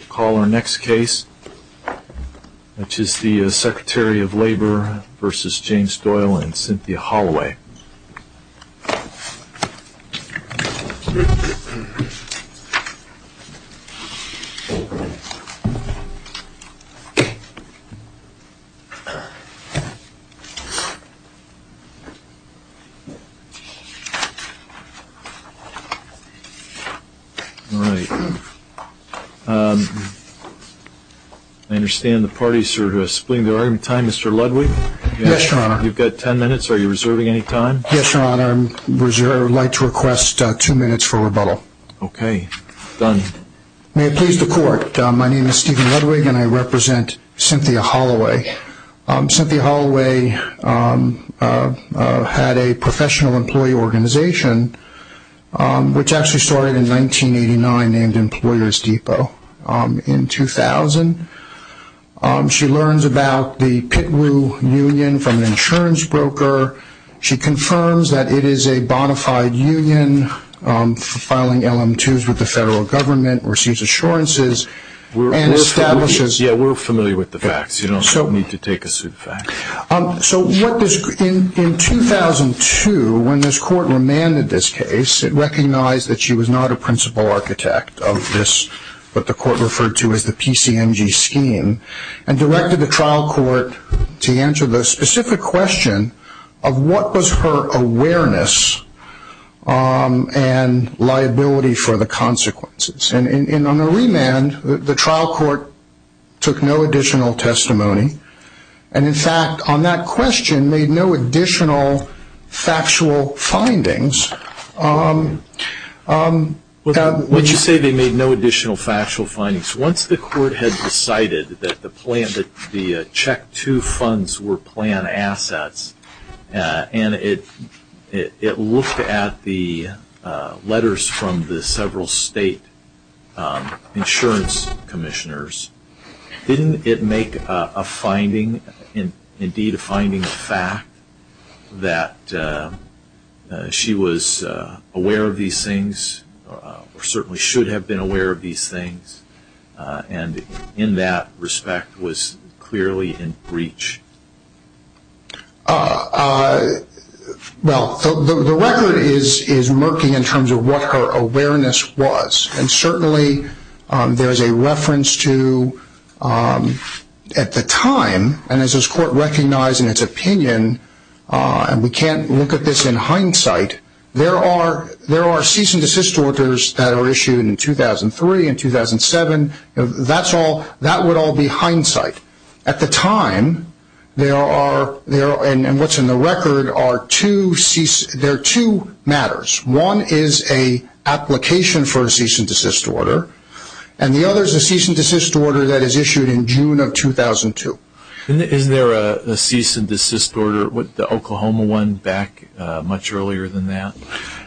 We'll call our next case, which is the Secretary of Labor v. James Doyle and Cynthia Holloway. I understand the parties are splitting their argument in time. Mr. Ludwig? Yes, Your Honor. You've got ten minutes. Are you reserving any time? Yes, Your Honor. I would like to request two minutes for rebuttal. Okay. Done. May it please the Court, my name is Stephen Ludwig and I represent Cynthia Holloway. Cynthia Holloway had a professional employee organization, which actually started in 1989, named Employers Depot. In 2000, she learns about the Pitwo Union from an insurance broker. She confirms that it is a bonafide union filing LM2s with the federal government, receives assurances, and establishes... In 2002, when this Court remanded this case, it recognized that she was not a principal architect of what the Court referred to as the PCMG scheme, and directed the trial court to answer the specific question of what was her awareness and liability for the consequences. And on the remand, the trial court took no additional testimony, and in fact, on that question, made no additional factual findings. When you say they made no additional factual findings, once the Court had decided that the check two funds were planned assets, and it looked at the letters from the several state insurance commissioners, didn't it make a finding, indeed a finding of fact, that she was aware of these things, or certainly should have been aware of these things, and in that respect was clearly in breach? Well, the record is murky in terms of what her awareness was, and certainly there is a reference to, at the time, and as this Court recognized in its opinion, and we can't look at this in hindsight, there are cease and desist orders that are issued in 2003 and 2007, that would all be hindsight. At the time, there are, and what's in the record, there are two matters. One is an application for a cease and desist order, and the other is a cease and desist order that is issued in June of 2002. And is there a cease and desist order, the Oklahoma one, back much earlier than that,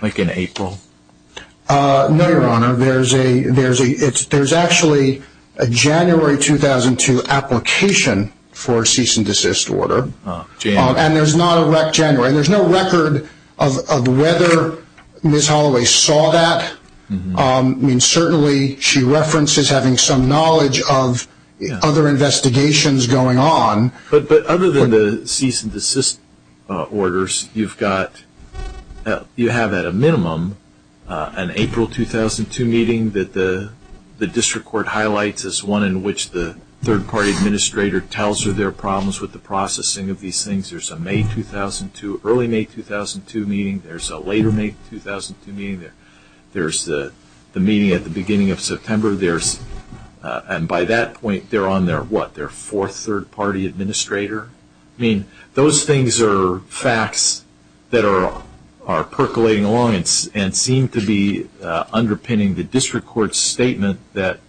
like in April? No, Your Honor, there's actually a January 2002 application for a cease and desist order, and there's no record of whether Ms. Holloway saw that. I mean, certainly she references having some knowledge of other investigations going on. But other than the cease and desist orders, you have at a minimum an April 2002 meeting that the District Court highlights as one in which the third-party administrator tells her there are problems with the processing of these things. There's an early May 2002 meeting, there's a later May 2002 meeting, there's the meeting at the beginning of September, and by that point, they're on their, what, their fourth third-party administrator? I mean, those things are facts that are percolating along and seem to be underpinning the District Court's statement that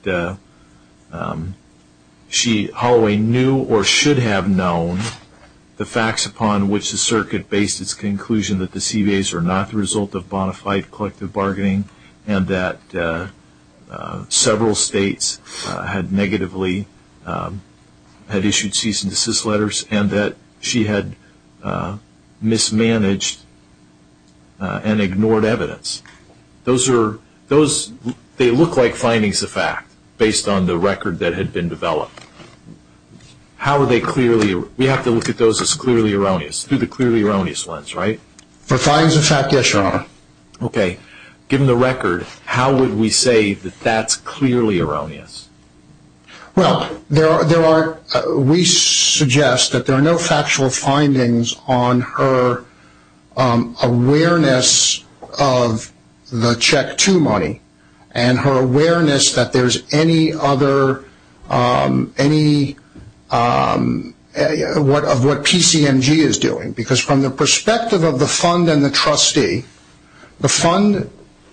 Holloway knew or should have known the facts upon which the circuit based its conclusion that the CBAs were not the result of bona fide collective bargaining and that several states had negatively, had issued cease and desist letters and that she had mismanaged and ignored evidence. Those are, those, they look like findings of fact based on the record that had been developed. How are they clearly, we have to look at those as clearly erroneous, through the clearly erroneous lens, right? Okay, given the record, how would we say that that's clearly erroneous? Well, there are, there are, we suggest that there are no factual findings on her awareness of the Check 2 money and her awareness that there's any other, any, of what PCMG is doing. Because from the perspective of the fund and the trustee, the fund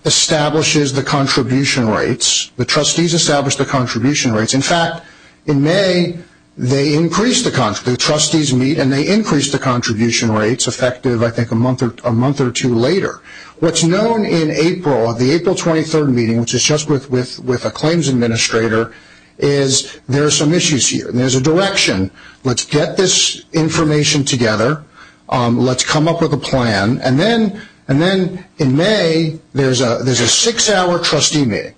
establishes the contribution rates, the trustees establish the contribution rates. In fact, in May, they increased the, the trustees meet and they increased the contribution rates, effective, I think, a month or two later. What's known in April, the April 23rd meeting, which is just with a claims administrator, is there are some issues here. There's a direction. Let's get this information together. Let's come up with a plan. And then, and then in May, there's a, there's a six-hour trustee meeting.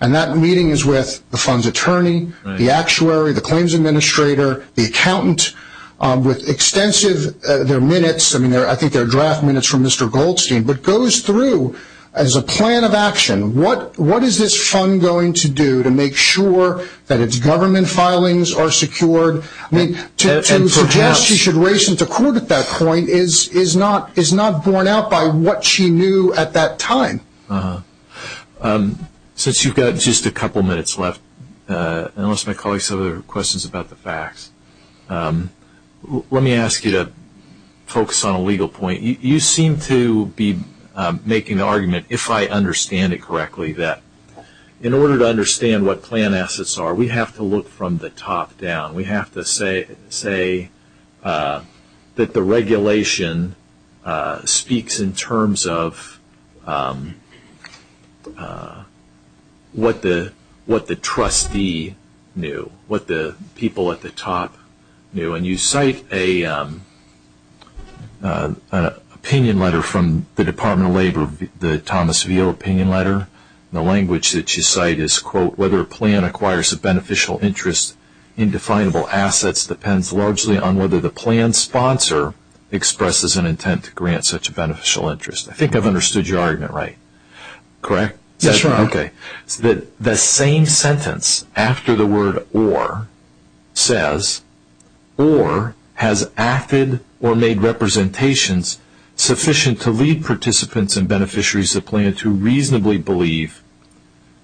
And that meeting is with the fund's attorney, the actuary, the claims administrator, the accountant, with extensive, there are minutes, I mean, I think there are draft minutes from Mr. Goldstein, but goes through as a plan of action. What, what is this fund going to do to make sure that its government filings are secured? I mean, to suggest she should race into court at that point is, is not, is not borne out by what she knew at that time. Since you've got just a couple minutes left, and I want to call you some other questions about the facts, let me ask you to focus on a legal point. You seem to be making the argument, if I understand it correctly, that in order to understand what plan assets are, we have to look from the top down. We have to say, say that the regulation speaks in terms of what the, what the trustee knew, what the people at the top knew. When you cite an opinion letter from the Department of Labor, the Thomas Veal opinion letter, the language that you cite is, quote, whether a plan acquires a beneficial interest in definable assets depends largely on whether the plan sponsor expresses an intent to grant such a beneficial interest. I think I've understood your argument, right? Correct? Yes, sir. Okay. The same sentence after the word or says, or has acted or made representations sufficient to lead participants and beneficiaries of plan to reasonably believe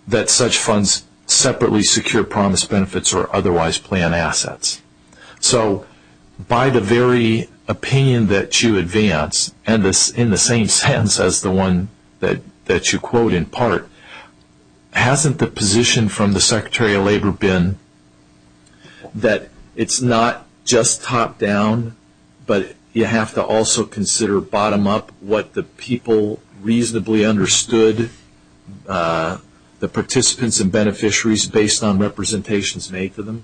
that such funds separately secure promised benefits or otherwise plan assets. So by the very opinion that you advance, and in the same sentence as the one that you quote in part, hasn't the position from the Secretary of Labor been that it's not just top down, but you have to also consider bottom up what the people reasonably understood the participants and beneficiaries based on representations made to them?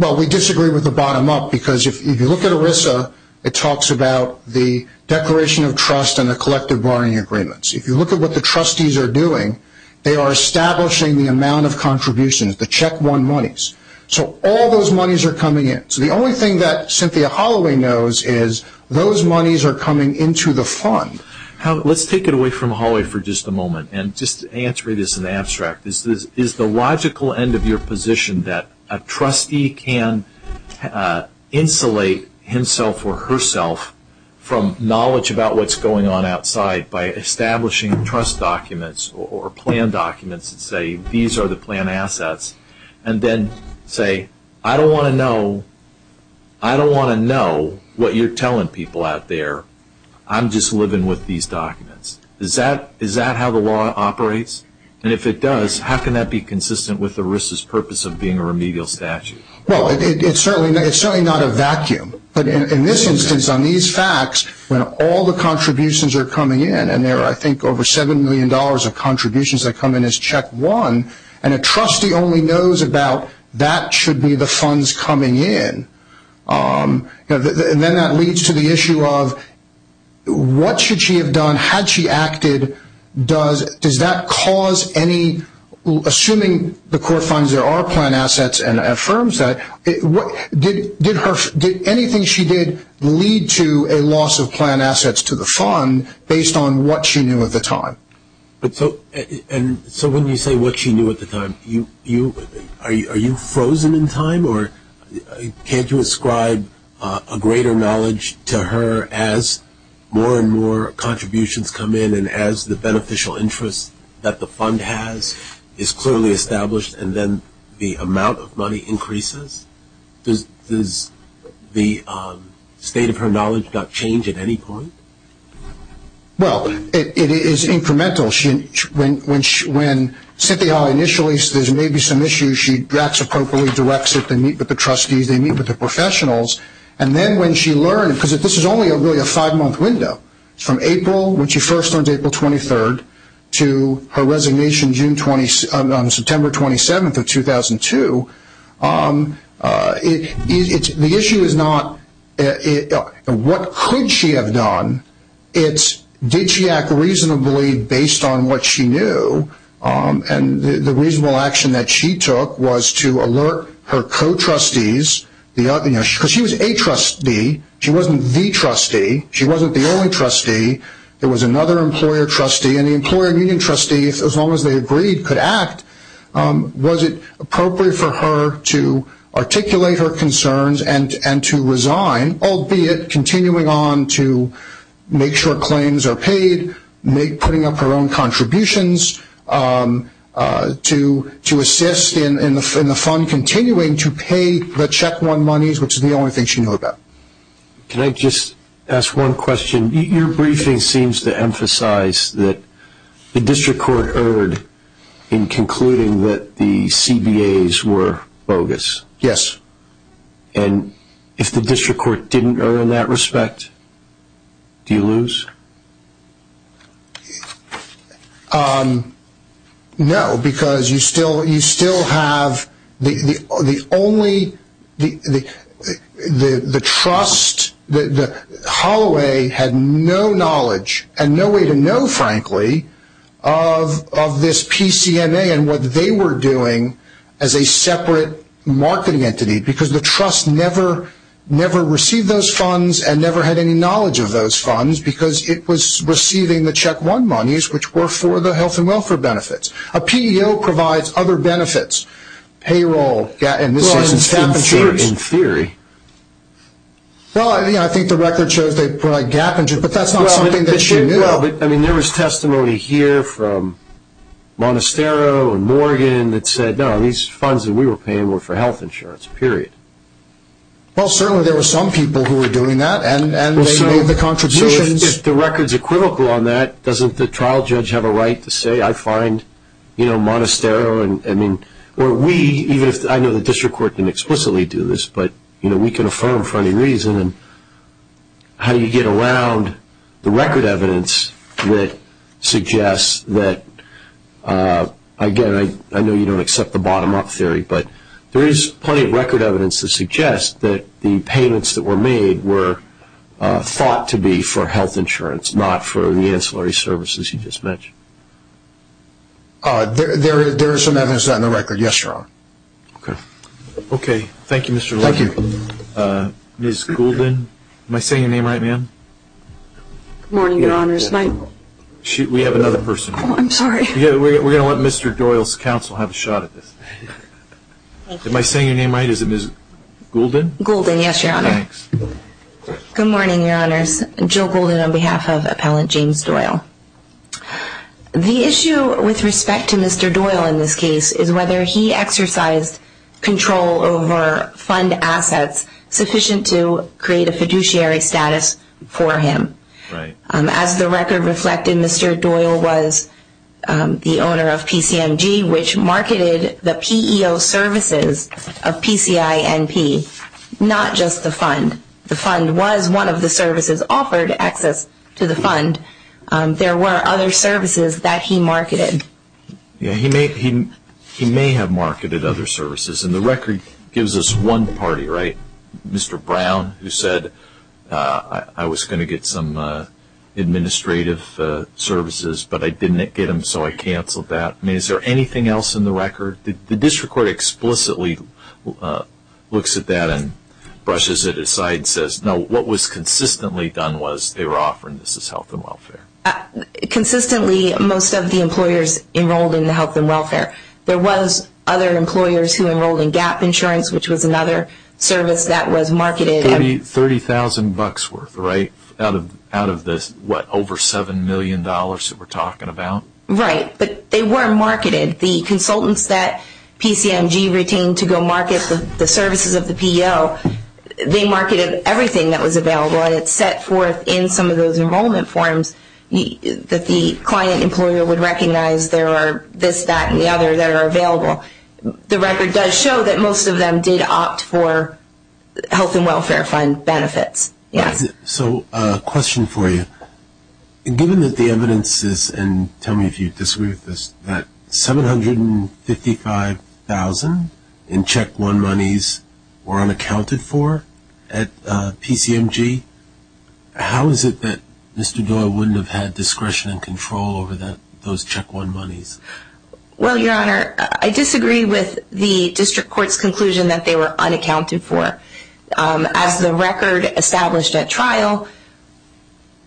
Well, we disagree with the bottom up because if you look at ERISA, it talks about the declaration of trust and the collective barring agreements. If you look at what the trustees are doing, they are establishing the amount of contributions, the check one monies. So all those monies are coming in. So the only thing that Cynthia Holloway knows is those monies are coming into the fund. Let's take it away from Holloway for just a moment and just answer this in the abstract. Is the logical end of your position that a trustee can insulate himself or herself from knowledge about what's going on outside by establishing trust documents or plan documents that say these are the plan assets and then say, I don't want to know what you're telling people out there. I'm just living with these documents. Is that how the law operates? And if it does, how can that be consistent with ERISA's purpose of being a remedial statute? Well, it's certainly not a vacuum. But in this instance, on these facts, when all the contributions are coming in, and there are, I think, over $7 million of contributions that come in as check one, and a trustee only knows about that should be the funds coming in, and then that leads to the issue of what should she have done had she acted? Does that cause any, assuming the court finds there are plan assets and affirms that, did anything she did lead to a loss of plan assets to the fund based on what she knew at the time? So when you say what she knew at the time, are you frozen in time, or can't you ascribe a greater knowledge to her as more and more contributions come in and as the beneficial interest that the fund has is clearly established and then the amount of money increases? Does the state of her knowledge not change at any point? Well, it is incremental. When Cynthia initially says there may be some issues, she acts appropriately, directs it, they meet with the trustees, they meet with the professionals. And then when she learned, because this is only really a five-month window, from April when she first learned, April 23rd, to her resignation on September 27th of 2002, the issue is not what could she have done, it's did she act reasonably based on what she knew? And the reasonable action that she took was to alert her co-trustees, because she was a trustee, she wasn't the trustee, she wasn't the only trustee, there was another employer trustee, and the employer and union trustee, as long as they agreed, could act. Was it appropriate for her to articulate her concerns and to resign, albeit continuing on to make sure claims are paid, putting up her own contributions, to assist in the fund continuing to pay the Check One monies, which is the only thing she knew about? Can I just ask one question? Your briefing seems to emphasize that the district court erred in concluding that the CBAs were bogus. Yes. And if the district court didn't err in that respect, do you lose? No, because you still have the only, the trust, the Holloway had no knowledge, and no way to know frankly, of this PCMA and what they were doing as a separate marketing entity, because the trust never received those funds and never had any knowledge of those funds, because it was receiving the Check One monies, which were for the health and welfare benefits. A PEO provides other benefits, payroll, and this is in theory. In theory. Well, I think the record shows they put a gap, but that's not something that she knew. Well, I mean, there was testimony here from Monastero and Morgan that said, no, these funds that we were paying were for health insurance, period. Well, certainly there were some people who were doing that, and they made the contributions. So if the records are critical on that, doesn't the trial judge have a right to say, I find, you know, Monastero and, I mean, or we, even if, I know the district court didn't explicitly do this, but, you know, we can affirm for any reason. How do you get around the record evidence that suggests that, again, I know you don't accept the bottom-up theory, but there is plenty of record evidence that suggests that the payments that were made were thought to be for health insurance, not for the ancillary services you just mentioned. There is some evidence on the record. Yes, Your Honor. Okay. Okay. Thank you, Mr. Levin. Thank you. Ms. Goulden. Am I saying your name right, ma'am? Good morning, Your Honor. We have another person here. I'm sorry. We're going to let Mr. Doyle's counsel have a shot at this. Thank you. Am I saying your name right? Is it Ms. Goulden? Goulden, yes, Your Honor. Thanks. Good morning, Your Honors. Jill Goulden on behalf of Appellant James Doyle. The issue with respect to Mr. Doyle in this case is whether he exercised control over fund assets sufficient to create a fiduciary status for him. Right. As the record reflected, Mr. Doyle was the owner of PCMG, which marketed the PEO services of PCINP, not just the fund. The fund was one of the services offered access to the fund. There were other services that he marketed. He may have marketed other services, and the record gives us one party, right? Mr. Brown, who said, I was going to get some administrative services, but I didn't get them, so I canceled that. I mean, is there anything else in the record? The district court explicitly looks at that and brushes it aside and says, no, what was consistently done was they were offering this as health and welfare. Consistently, most of the employers enrolled in the health and welfare. There was other employers who enrolled in GAP insurance, which was another service that was marketed. $30,000 worth, right? Out of this, what, over $7 million that we're talking about? Right. But they were marketed. The consultants that PCMG retained to go market the services of the PEO, they marketed everything that was available. And it's set forth in some of those enrollment forms that the client employer would recognize there are this, that, and the other that are available. The record does show that most of them did opt for health and welfare fund benefits, yes. So a question for you. Given that the evidence is, and tell me if you disagree with this, that $755,000 in Check One monies were unaccounted for at PCMG, how is it that Mr. Doyle wouldn't have had discretion and control over those Check One monies? Well, Your Honor, I disagree with the district court's conclusion that they were unaccounted for. As the record established at trial,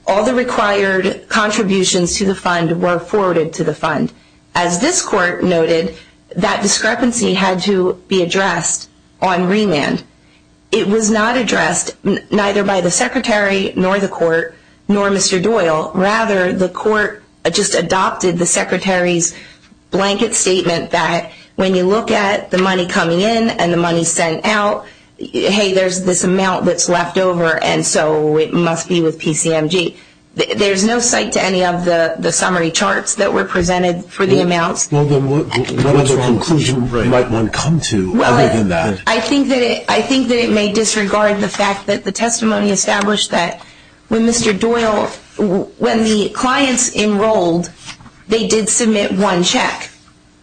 all the required contributions to the fund were forwarded to the fund. As this court noted, that discrepancy had to be addressed on remand. It was not addressed neither by the secretary nor the court nor Mr. Doyle. Rather, the court just adopted the secretary's blanket statement that when you look at the money coming in and the money sent out, hey, there's this amount that's left over and so it must be with PCMG. There's no cite to any of the summary charts that were presented for the amounts. Well, then what other conclusion might one come to other than that? I think that it may disregard the fact that the testimony established that when Mr. Doyle, when the clients enrolled, they did submit one check.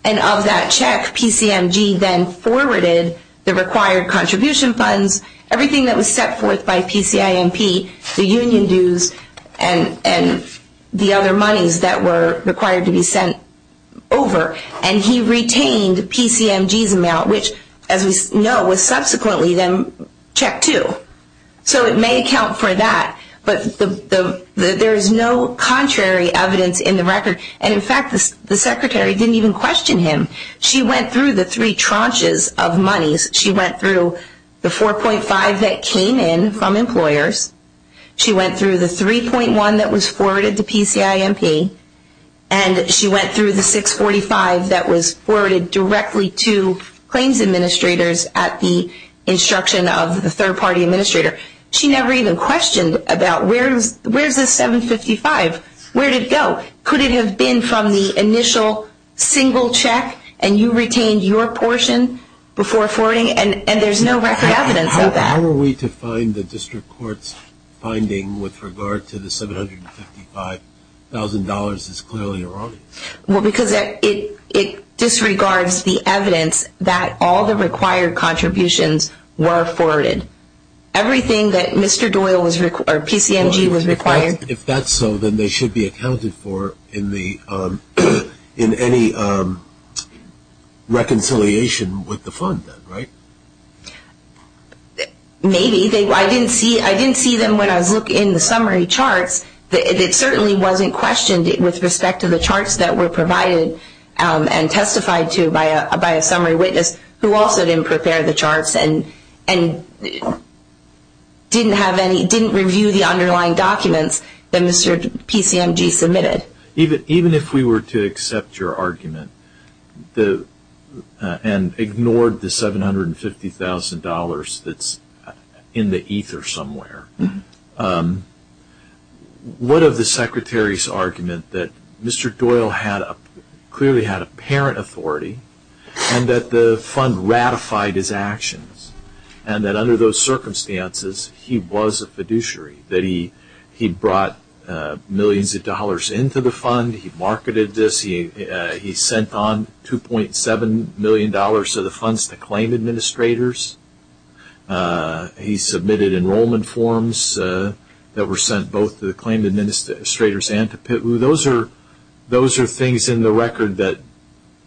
And of that check, PCMG then forwarded the required contribution funds, everything that was set forth by PCIMP, the union dues and the other monies that were required to be sent over. And he retained PCMG's amount, which, as we know, was subsequently then check two. So it may account for that. But there is no contrary evidence in the record. And in fact, the secretary didn't even question him. She went through the three tranches of monies. She went through the 4.5 that came in from employers. She went through the 3.1 that was forwarded to PCIMP. And she went through the 6.45 that was forwarded directly to claims administrators at the instruction of the third-party administrator. She never even questioned about where is this 7.55? Where did it go? Could it have been from the initial single check and you retained your portion before forwarding? And there's no record evidence of that. How are we to find the district court's finding with regard to the $755,000 is clearly erroneous. Well, because it disregards the evidence that all the required contributions were forwarded. Everything that Mr. Doyle or PCMG was required. If that's so, then they should be accounted for in any reconciliation with the fund, right? Maybe. I didn't see them when I was looking at the summary charts. It certainly wasn't questioned with respect to the charts that were provided and testified to by a summary witness who also didn't prepare the charts and didn't review the underlying documents that Mr. PCMG submitted. Even if we were to accept your argument and ignored the $750,000 that's in the ether somewhere, what of the secretary's argument that Mr. Doyle clearly had apparent authority and that the fund ratified his actions and that under those circumstances he was a fiduciary, that he brought millions of dollars into the fund. He marketed this. He sent on $2.7 million of the funds to claim administrators. He submitted enrollment forms that were sent both to the claim administrators and to PITWU. Those are things in the record that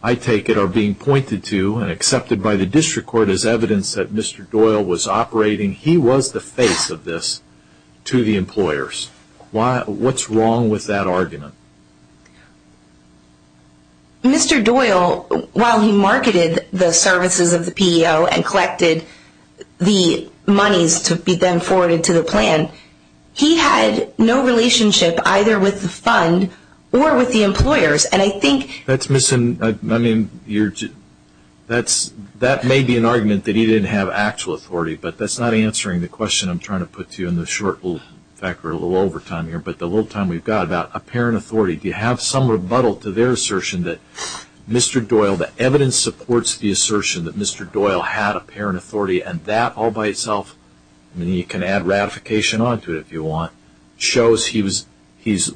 I take it are being pointed to and accepted by the district court as evidence that Mr. Doyle was operating. He was the face of this to the employers. What's wrong with that argument? Mr. Doyle, while he marketed the services of the PEO and collected the monies to be then forwarded to the plan, he had no relationship either with the fund or with the employers. That may be an argument that he didn't have actual authority, but that's not answering the question I'm trying to put to you in the short little over time here. The little time we've got about apparent authority, do you have some rebuttal to their assertion that Mr. Doyle, the evidence supports the assertion that Mr. Doyle had apparent authority and that all by itself, you can add ratification onto it if you want, shows he's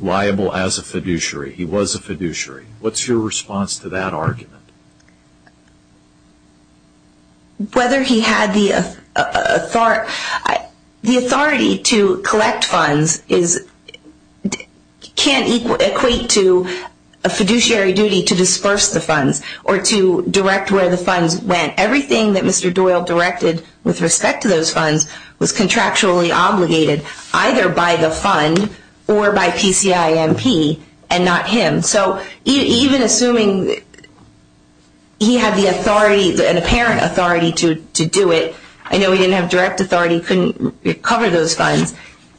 liable as a fiduciary, he was a fiduciary. What's your response to that argument? Whether he had the authority to collect funds can't equate to a fiduciary duty to disperse the funds or to direct where the funds went. Everything that Mr. Doyle directed with respect to those funds was contractually obligated either by the fund or by PCIMP and not him. So even assuming he had the authority, an apparent authority to do it, I know he didn't have direct authority, couldn't cover those funds,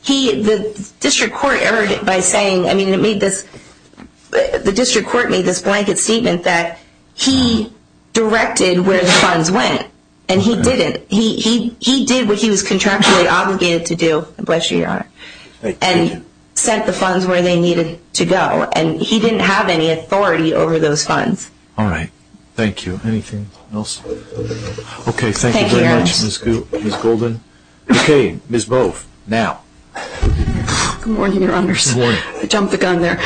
the district court erred by saying, I mean it made this, the district court made this blanket statement that he directed where the funds went and he didn't. He did what he was contractually obligated to do, bless you, Your Honor, and sent the funds where they needed to go and he didn't have any authority over those funds. All right. Thank you. Anything else? Thank you very much, Ms. Golden. Okay. Ms. Bove, now. Good morning, Your Honors. Good morning. I jumped the gun there.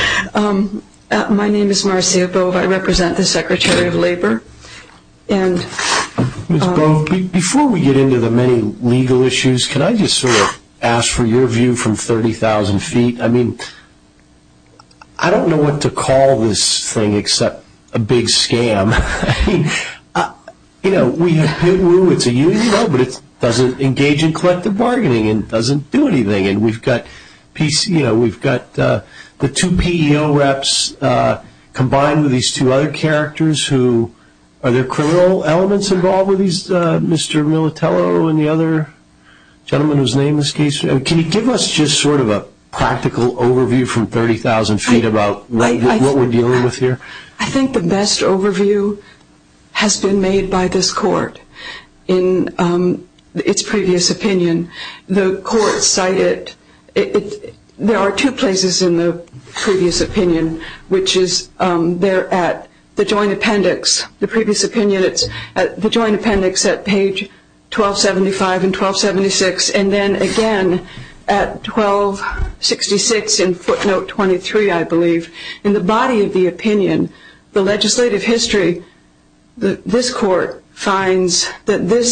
My name is Marcia Bove. I represent the Secretary of Labor. Ms. Bove, before we get into the many legal issues, can I just sort of ask for your view from 30,000 feet? I mean, I don't know what to call this thing except a big scam. I mean, you know, we have PITWU, it's a union, but it doesn't engage in collective bargaining and doesn't do anything. And we've got PC, you know, we've got the two PEO reps combined with these two other characters who are there criminal elements involved with these? Mr. Militello and the other gentleman whose name is Casey. Can you give us just sort of a practical overview from 30,000 feet about what we're dealing with here? I think the best overview has been made by this court in its previous opinion. The court cited – there are two places in the previous opinion, which is there at the joint appendix. The previous opinion, it's at the joint appendix at page 1275 and 1276, and then again at 1266 in footnote 23, I believe. In the body of the opinion, the legislative history, this court finds that the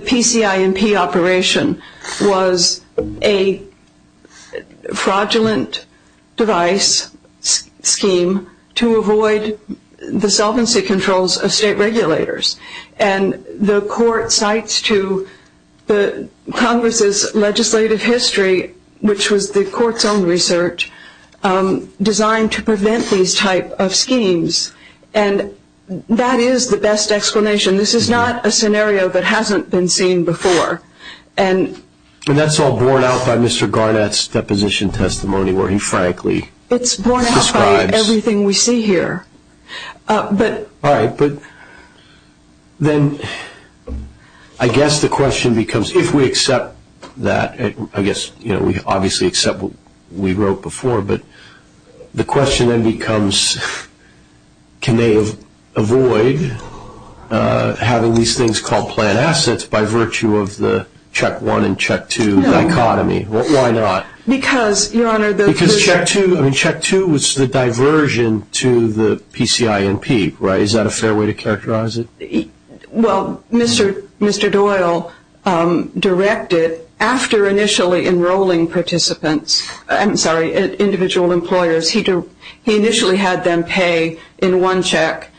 PCINP operation was a fraudulent device scheme to avoid the solvency controls of state regulators. And the court cites to Congress's legislative history, which was the court's own research, designed to prevent these type of schemes. And that is the best explanation. This is not a scenario that hasn't been seen before. And that's all borne out by Mr. Garnett's deposition testimony where he frankly describes – It's borne out by everything we see here. All right, but then I guess the question becomes, if we accept that, I guess we obviously accept what we wrote before, but the question then becomes can they avoid having these things called planned assets by virtue of the Check I and Check II dichotomy? Why not? Because, Your Honor, the – Is that a fair way to characterize it? Well, Mr. Doyle directed, after initially enrolling participants – I'm sorry, individual employers – he initially had them pay in one check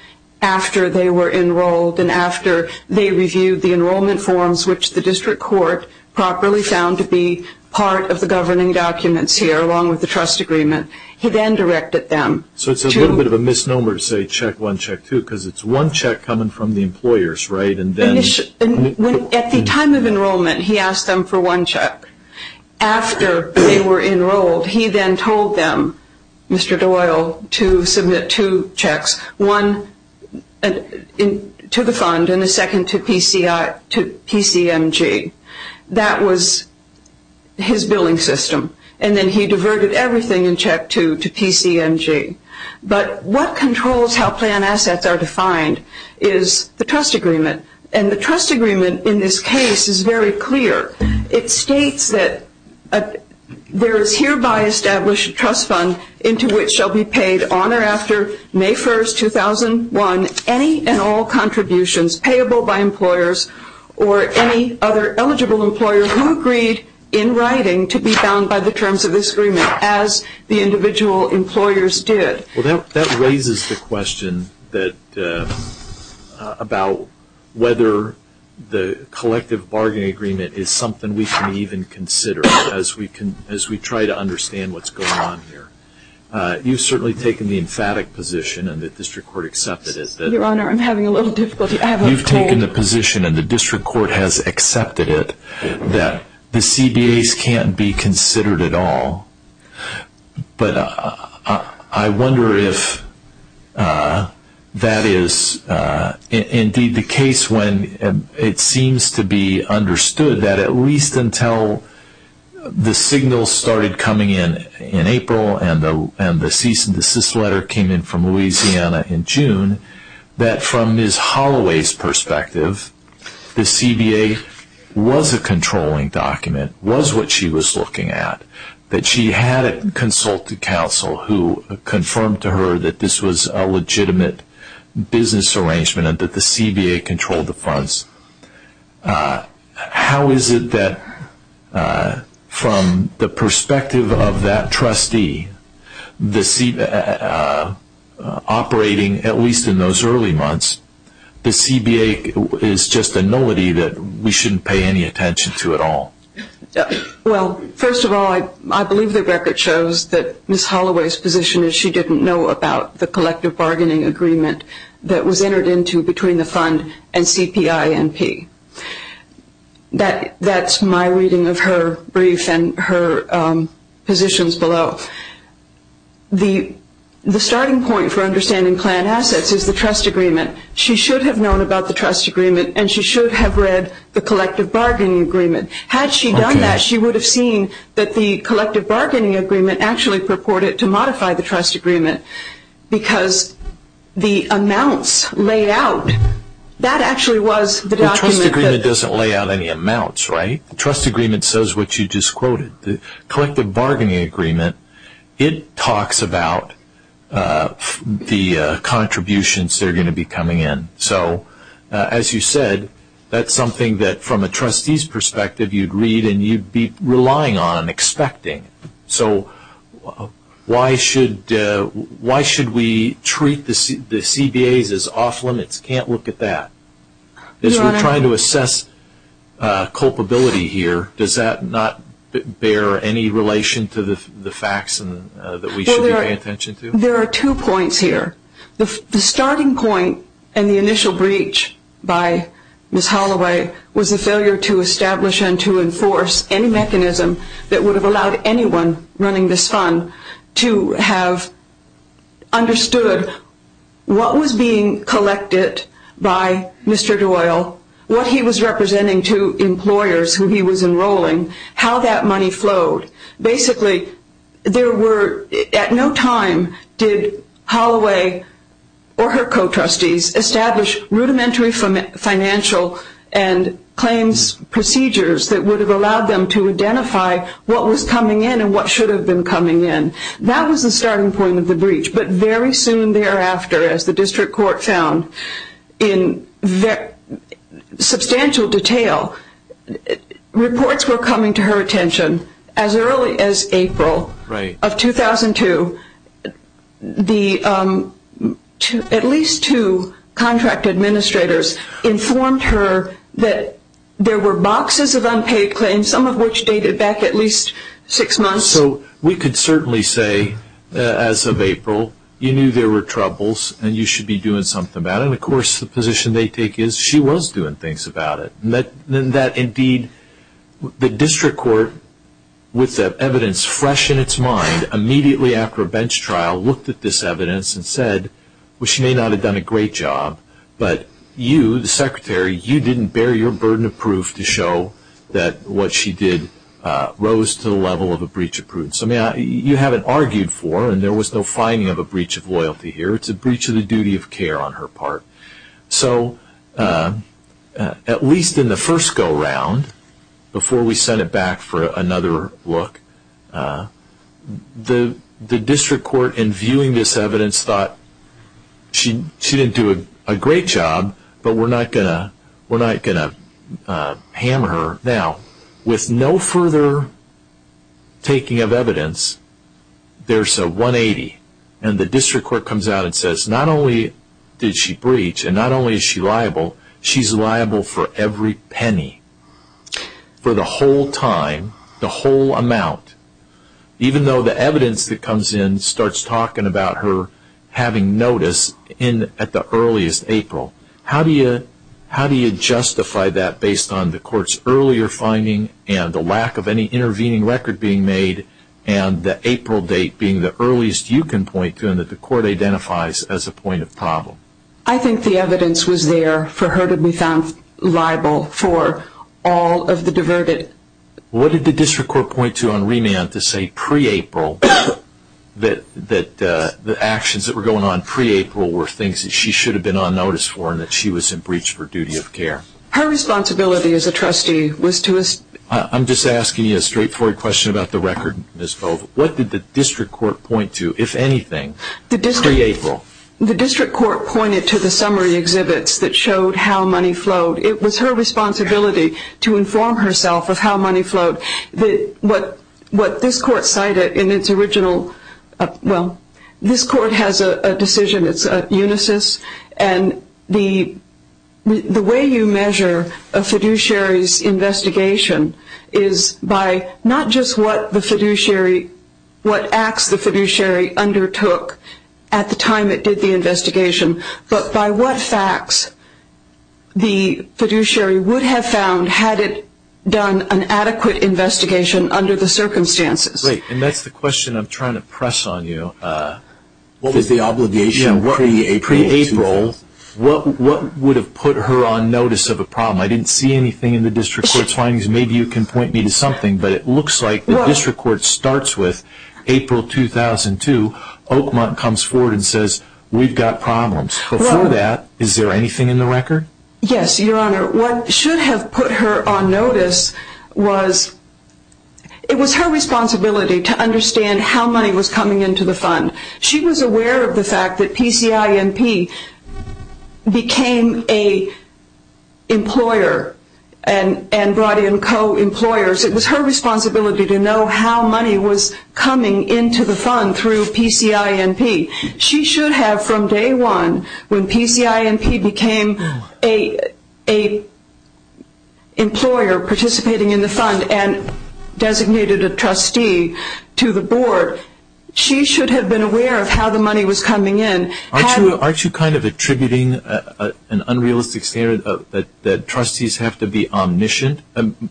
after they were enrolled and after they reviewed the enrollment forms, which the district court properly found to be part of the governing documents here, along with the trust agreement. He then directed them to – So it's a little bit of a misnomer to say Check I, Check II, because it's one check coming from the employers, right? And then – At the time of enrollment, he asked them for one check. After they were enrolled, he then told them, Mr. Doyle, to submit two checks, one to the fund and a second to PCMG. That was his billing system. And then he diverted everything in Check II to PCMG. But what controls how plan assets are defined is the trust agreement. And the trust agreement in this case is very clear. It states that there is hereby established a trust fund into which shall be paid on or after May 1st, 2001, any and all contributions payable by employers or any other eligible employer who agreed in writing to be bound by the terms of this agreement as the individual employers did. Well, that raises the question that – about whether the collective bargaining agreement is something we can even consider as we try to understand what's going on here. You've certainly taken the emphatic position, and the district court accepted it, that – Your Honor, I'm having a little difficulty. You've taken the position, and the district court has accepted it, that the CBAs can't be considered at all. But I wonder if that is indeed the case when it seems to be understood that at least until the signals started coming in in April and the cease and desist letter came in from Louisiana in June, that from Ms. Holloway's perspective, the CBA was a controlling document, was what she was looking at, that she had a consultant counsel who confirmed to her that this was a legitimate business arrangement and that the CBA controlled the funds. How is it that from the perspective of that trustee, operating at least in those early months, the CBA is just a nullity that we shouldn't pay any attention to at all? Well, first of all, I believe the record shows that Ms. Holloway's position is she didn't know about the collective bargaining agreement that was entered into between the fund and CPINP. That's my reading of her brief and her positions below. The starting point for understanding planned assets is the trust agreement. She should have known about the trust agreement and she should have read the collective bargaining agreement. Had she done that, she would have seen that the collective bargaining agreement actually purported to modify the trust agreement because the amounts laid out, that actually was the document that... The trust agreement doesn't lay out any amounts, right? The trust agreement says what you just quoted. The collective bargaining agreement, it talks about the contributions that are going to be coming in. So as you said, that's something that from a trustee's perspective, you'd read and you'd be relying on and expecting. So why should we treat the CBAs as off limits? Can't look at that. As we're trying to assess culpability here, does that not bear any relation to the facts that we should be paying attention to? There are two points here. The starting point and the initial breach by Ms. Holloway was the failure to establish and to enforce any mechanism that would have allowed anyone running this fund to have understood what was being collected by Mr. Doyle, what he was representing to employers who he was enrolling, how that money flowed. Basically, at no time did Holloway or her co-trustees establish rudimentary financial and claims procedures that would have allowed them to identify what was coming in and what should have been coming in. That was the starting point of the breach. But very soon thereafter, as the district court found in substantial detail, reports were coming to her attention. As early as April of 2002, at least two contract administrators informed her that there were boxes of unpaid claims, some of which dated back at least six months. We could certainly say, as of April, you knew there were troubles and you should be doing something about it. Of course, the position they take is she was doing things about it. Indeed, the district court, with the evidence fresh in its mind, immediately after a bench trial looked at this evidence and said, she may not have done a great job, but you, the secretary, you didn't bear your burden of proof to show that what she did rose to the level of a breach of prudence. You haven't argued for it, and there was no finding of a breach of loyalty here. It's a breach of the duty of care on her part. So at least in the first go-round, before we sent it back for another look, the district court, in viewing this evidence, thought she didn't do a great job, but we're not going to hammer her. Now, with no further taking of evidence, there's a 180, and the district court comes out and says, not only did she breach, and not only is she liable, she's liable for every penny, for the whole time, the whole amount, even though the evidence that comes in starts talking about her having notice at the earliest April. How do you justify that based on the court's earlier finding and the lack of any intervening record being made, and the April date being the earliest you can point to and that the court identifies as a point of problem? I think the evidence was there for her to be found liable for all of the diverted. What did the district court point to on remand to say pre-April that the actions that were going on pre-April were things that she should have been on notice for and that she was in breach for duty of care? Her responsibility as a trustee was to... I'm just asking you a straightforward question about the record, Ms. Bove. What did the district court point to, if anything, pre-April? The district court pointed to the summary exhibits that showed how money flowed. It was her responsibility to inform herself of how money flowed. What this court cited in its original... Well, this court has a decision, it's a unisys, and the way you measure a fiduciary's investigation is by not just what acts the fiduciary undertook at the time it did the investigation, but by what facts the fiduciary would have found had it done an adequate investigation under the circumstances. Great, and that's the question I'm trying to press on you. What was the obligation pre-April? Pre-April, what would have put her on notice of a problem? I didn't see anything in the district court's findings. Maybe you can point me to something, but it looks like the district court starts with April 2002. Oakmont comes forward and says, we've got problems. Before that, is there anything in the record? Yes, Your Honor. What should have put her on notice was... It was her responsibility to understand how money was coming into the fund. She was aware of the fact that PCINP became an employer and brought in co-employers. It was her responsibility to know how money was coming into the fund through PCINP. She should have, from day one, when PCINP became an employer participating in the fund and designated a trustee to the board, she should have been aware of how the money was coming in. Aren't you kind of attributing an unrealistic standard that trustees have to be omniscient?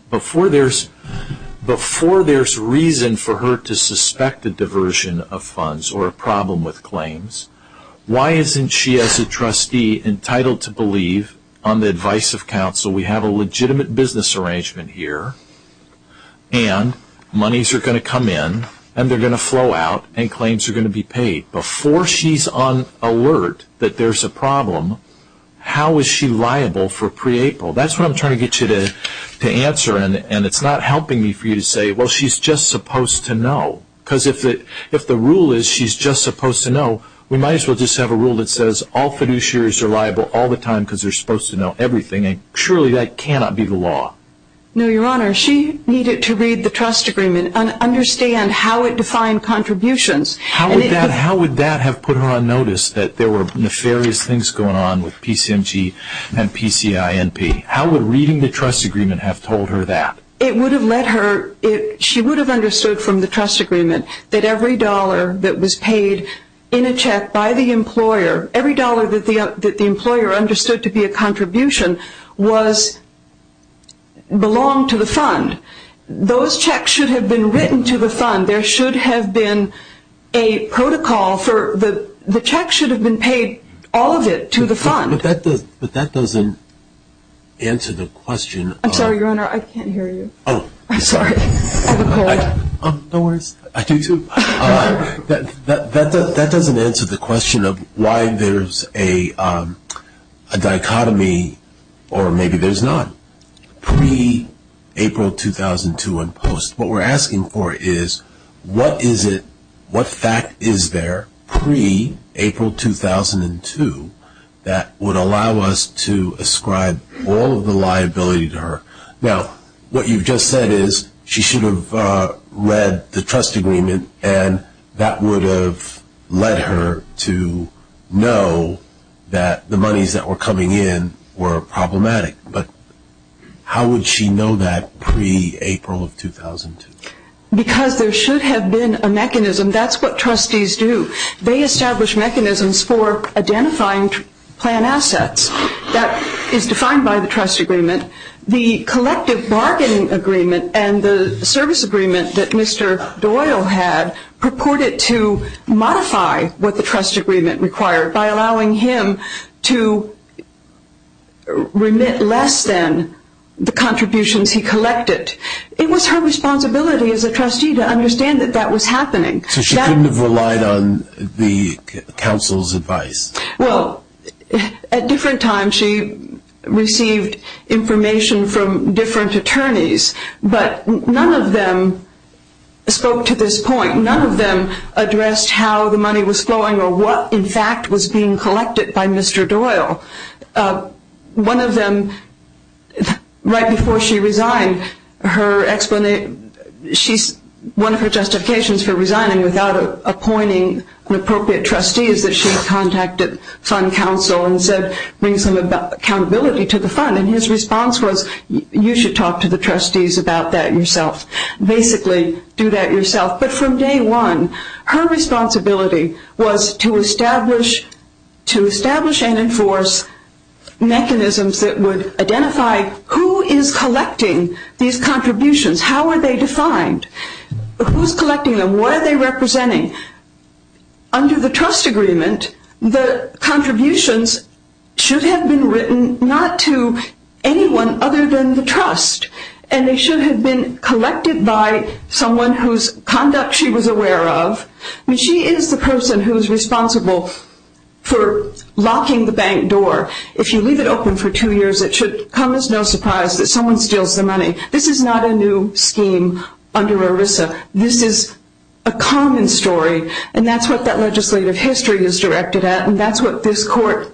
Before there's reason for her to suspect a diversion of funds or a problem with claims, why isn't she, as a trustee, entitled to believe, on the advice of counsel, we have a legitimate business arrangement here and monies are going to come in and they're going to flow out and claims are going to be paid. Before she's on alert that there's a problem, how is she liable for pre-April? That's what I'm trying to get you to answer, and it's not helping me for you to say, well, she's just supposed to know. Because if the rule is she's just supposed to know, we might as well just have a rule that says all fiduciaries are liable all the time because they're supposed to know everything, and surely that cannot be the law. No, Your Honor. She needed to read the trust agreement and understand how it defined contributions. How would that have put her on notice that there were nefarious things going on with PCMG and PCINP? How would reading the trust agreement have told her that? It would have let her, she would have understood from the trust agreement that every dollar that was paid in a check by the employer, every dollar that the employer understood to be a contribution belonged to the fund. Those checks should have been written to the fund. There should have been a protocol for the check should have been paid, all of it, to the fund. But that doesn't answer the question. I'm sorry, Your Honor, I can't hear you. Oh. I'm sorry. I have a cold. No worries. I do, too. That doesn't answer the question of why there's a dichotomy, or maybe there's not, pre-April 2002 and post. What we're asking for is what is it, what fact is there pre-April 2002 that would allow us to ascribe all of the liability to her? Now, what you've just said is she should have read the trust agreement and that would have led her to know that the monies that were coming in were problematic. But how would she know that pre-April of 2002? Because there should have been a mechanism. That's what trustees do. They establish mechanisms for identifying plan assets. That is defined by the trust agreement. The collective bargaining agreement and the service agreement that Mr. Doyle had purported to modify what the trust agreement required by allowing him to remit less than the contributions he collected. It was her responsibility as a trustee to understand that that was happening. So she couldn't have relied on the counsel's advice? Well, at different times she received information from different attorneys, but none of them spoke to this point. None of them addressed how the money was flowing or what in fact was being collected by Mr. Doyle. One of them, right before she resigned, one of her justifications for resigning without appointing an appropriate trustee is that she contacted fund counsel and said bring some accountability to the fund. And his response was you should talk to the trustees about that yourself. Basically, do that yourself. But from day one, her responsibility was to establish and enforce mechanisms that would identify who is collecting these contributions. How are they defined? Who is collecting them? What are they representing? Under the trust agreement, the contributions should have been written not to anyone other than the trust. And they should have been collected by someone whose conduct she was aware of. She is the person who is responsible for locking the bank door. If you leave it open for two years, it should come as no surprise that someone steals the money. This is not a new scheme under ERISA. This is a common story, and that's what that legislative history is directed at, and that's what this court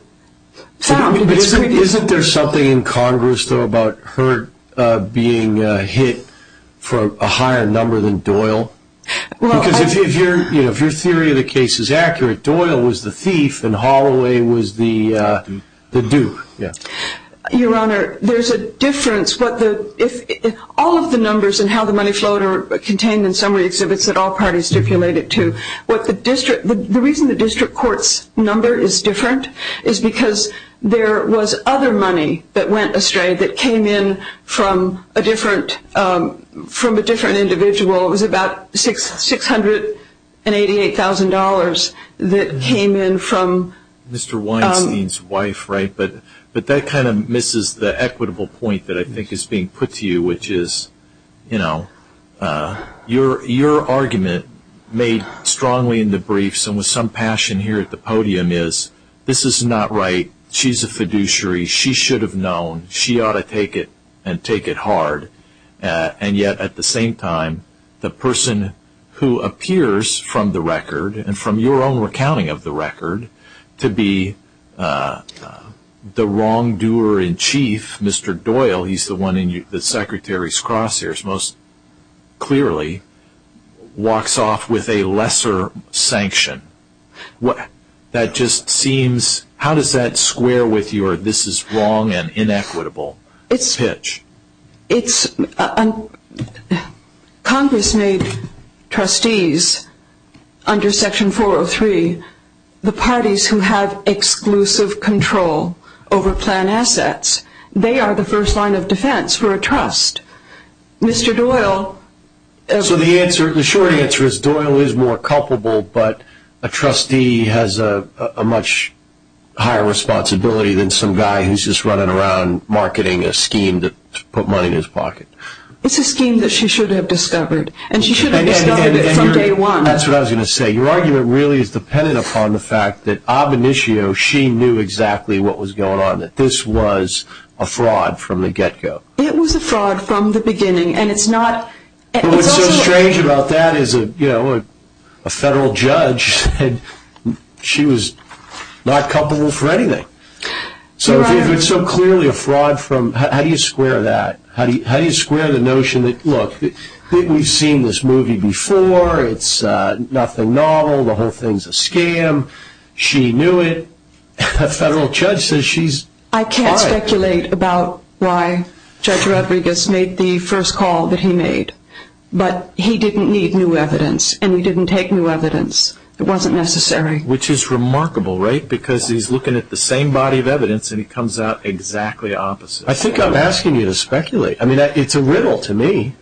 found. Isn't there something in Congress, though, about her being hit for a higher number than Doyle? Because if your theory of the case is accurate, Doyle was the thief and Holloway was the duke. Your Honor, there's a difference. All of the numbers and how the money flowed are contained in summary exhibits that all parties stipulate it to. The reason the district court's number is different is because there was other money that went astray that came in from a different individual. It was about $688,000 that came in from Mr. Weinstein's wife, right? But that kind of misses the equitable point that I think is being put to you, which is your argument made strongly in the briefs and with some passion here at the podium is this is not right. She's a fiduciary. She should have known. She ought to take it and take it hard. And yet at the same time, the person who appears from the record and from your own recounting of the record to be the wrongdoer in chief, Mr. Doyle, he's the one in the secretary's crosshairs most clearly, walks off with a lesser sanction. That just seems, how does that square with your this is wrong and inequitable pitch? Congress made trustees under Section 403 the parties who have exclusive control over plan assets. They are the first line of defense for a trust. Mr. Doyle. So the short answer is Doyle is more culpable, but a trustee has a much higher responsibility than some guy who's just running around marketing a scheme to put money in his pocket. It's a scheme that she should have discovered, and she should have discovered it from day one. That's what I was going to say. Your argument really is dependent upon the fact that Abinishio, she knew exactly what was going on, that this was a fraud from the get-go. It was a fraud from the beginning, and it's not. What's so strange about that is a federal judge said she was not culpable for anything. So if it's so clearly a fraud, how do you square that? How do you square the notion that, look, we've seen this movie before. It's nothing novel. The whole thing's a scam. She knew it. A federal judge says she's fine. I can't speculate about why Judge Rodriguez made the first call that he made, but he didn't need new evidence, and he didn't take new evidence. It wasn't necessary. Which is remarkable, right, because he's looking at the same body of evidence, and it comes out exactly opposite. I think I'm asking you to speculate. I mean, it's a riddle to me.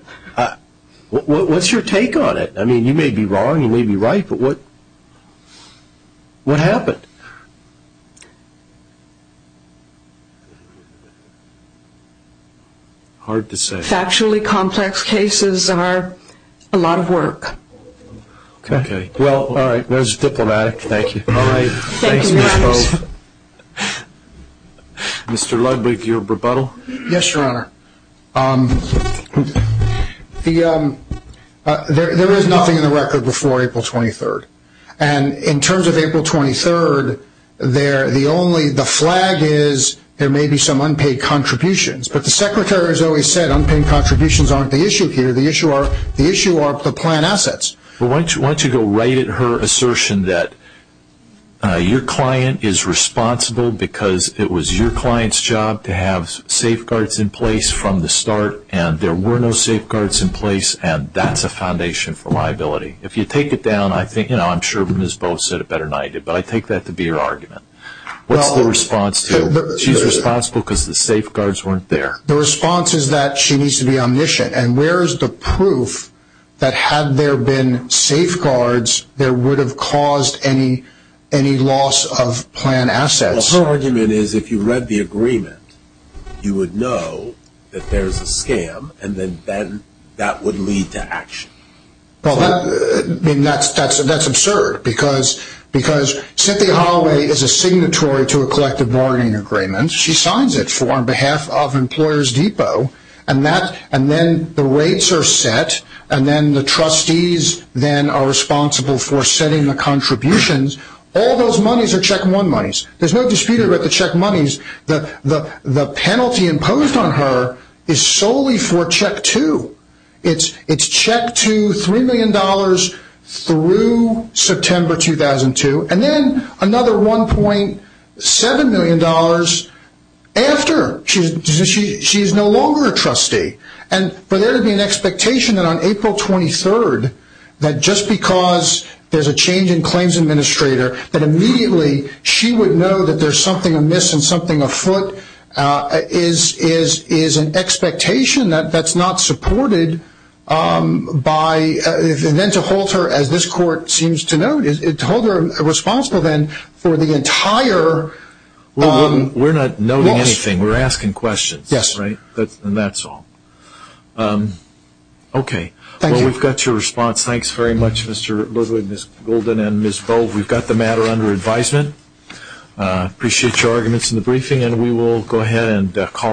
What's your take on it? I mean, you may be wrong, you may be right, but what happened? Hard to say. Factually complex cases are a lot of work. Okay. Well, all right. That was diplomatic. Thank you. Thank you. Mr. Ludwig, your rebuttal? Yes, Your Honor. There is nothing in the record before April 23rd. And in terms of April 23rd, the flag is there may be some unpaid contributions. But the Secretary has always said unpaid contributions aren't the issue here. The issue are the planned assets. Why don't you go right at her assertion that your client is responsible because it was your client's job to have safeguards in place from the start, and there were no safeguards in place, and that's a foundation for liability. If you take it down, I'm sure Ms. Boves said it better than I did, but I take that to be her argument. What's the response to she's responsible because the safeguards weren't there? The response is that she needs to be omniscient. And where is the proof that had there been safeguards, there would have caused any loss of planned assets? Well, her argument is if you read the agreement, you would know that there's a scam, and then that would lead to action. Well, that's absurd because Cynthia Holloway is a signatory to a collective bargaining agreement. She signs it on behalf of Employers Depot, and then the rates are set, and then the trustees are responsible for setting the contributions. All those monies are check one monies. There's no dispute about the check monies. The penalty imposed on her is solely for check two. It's check two, $3 million through September 2002, and then another $1.7 million after. She is no longer a trustee. And for there to be an expectation that on April 23rd, that just because there's a change in claims administrator, that immediately she would know that there's something amiss and something afoot is an expectation that's not supported. And then to hold her, as this court seems to note, to hold her responsible then for the entire loss. We're not noting anything. We're asking questions. Yes. And that's all. Okay. Thank you. Well, we've got your response. Thanks very much, Mr. Ludwig, Ms. Golden, and Ms. Volk. We've got the matter under advisement. Appreciate your arguments in the briefing, and we will go ahead and call it.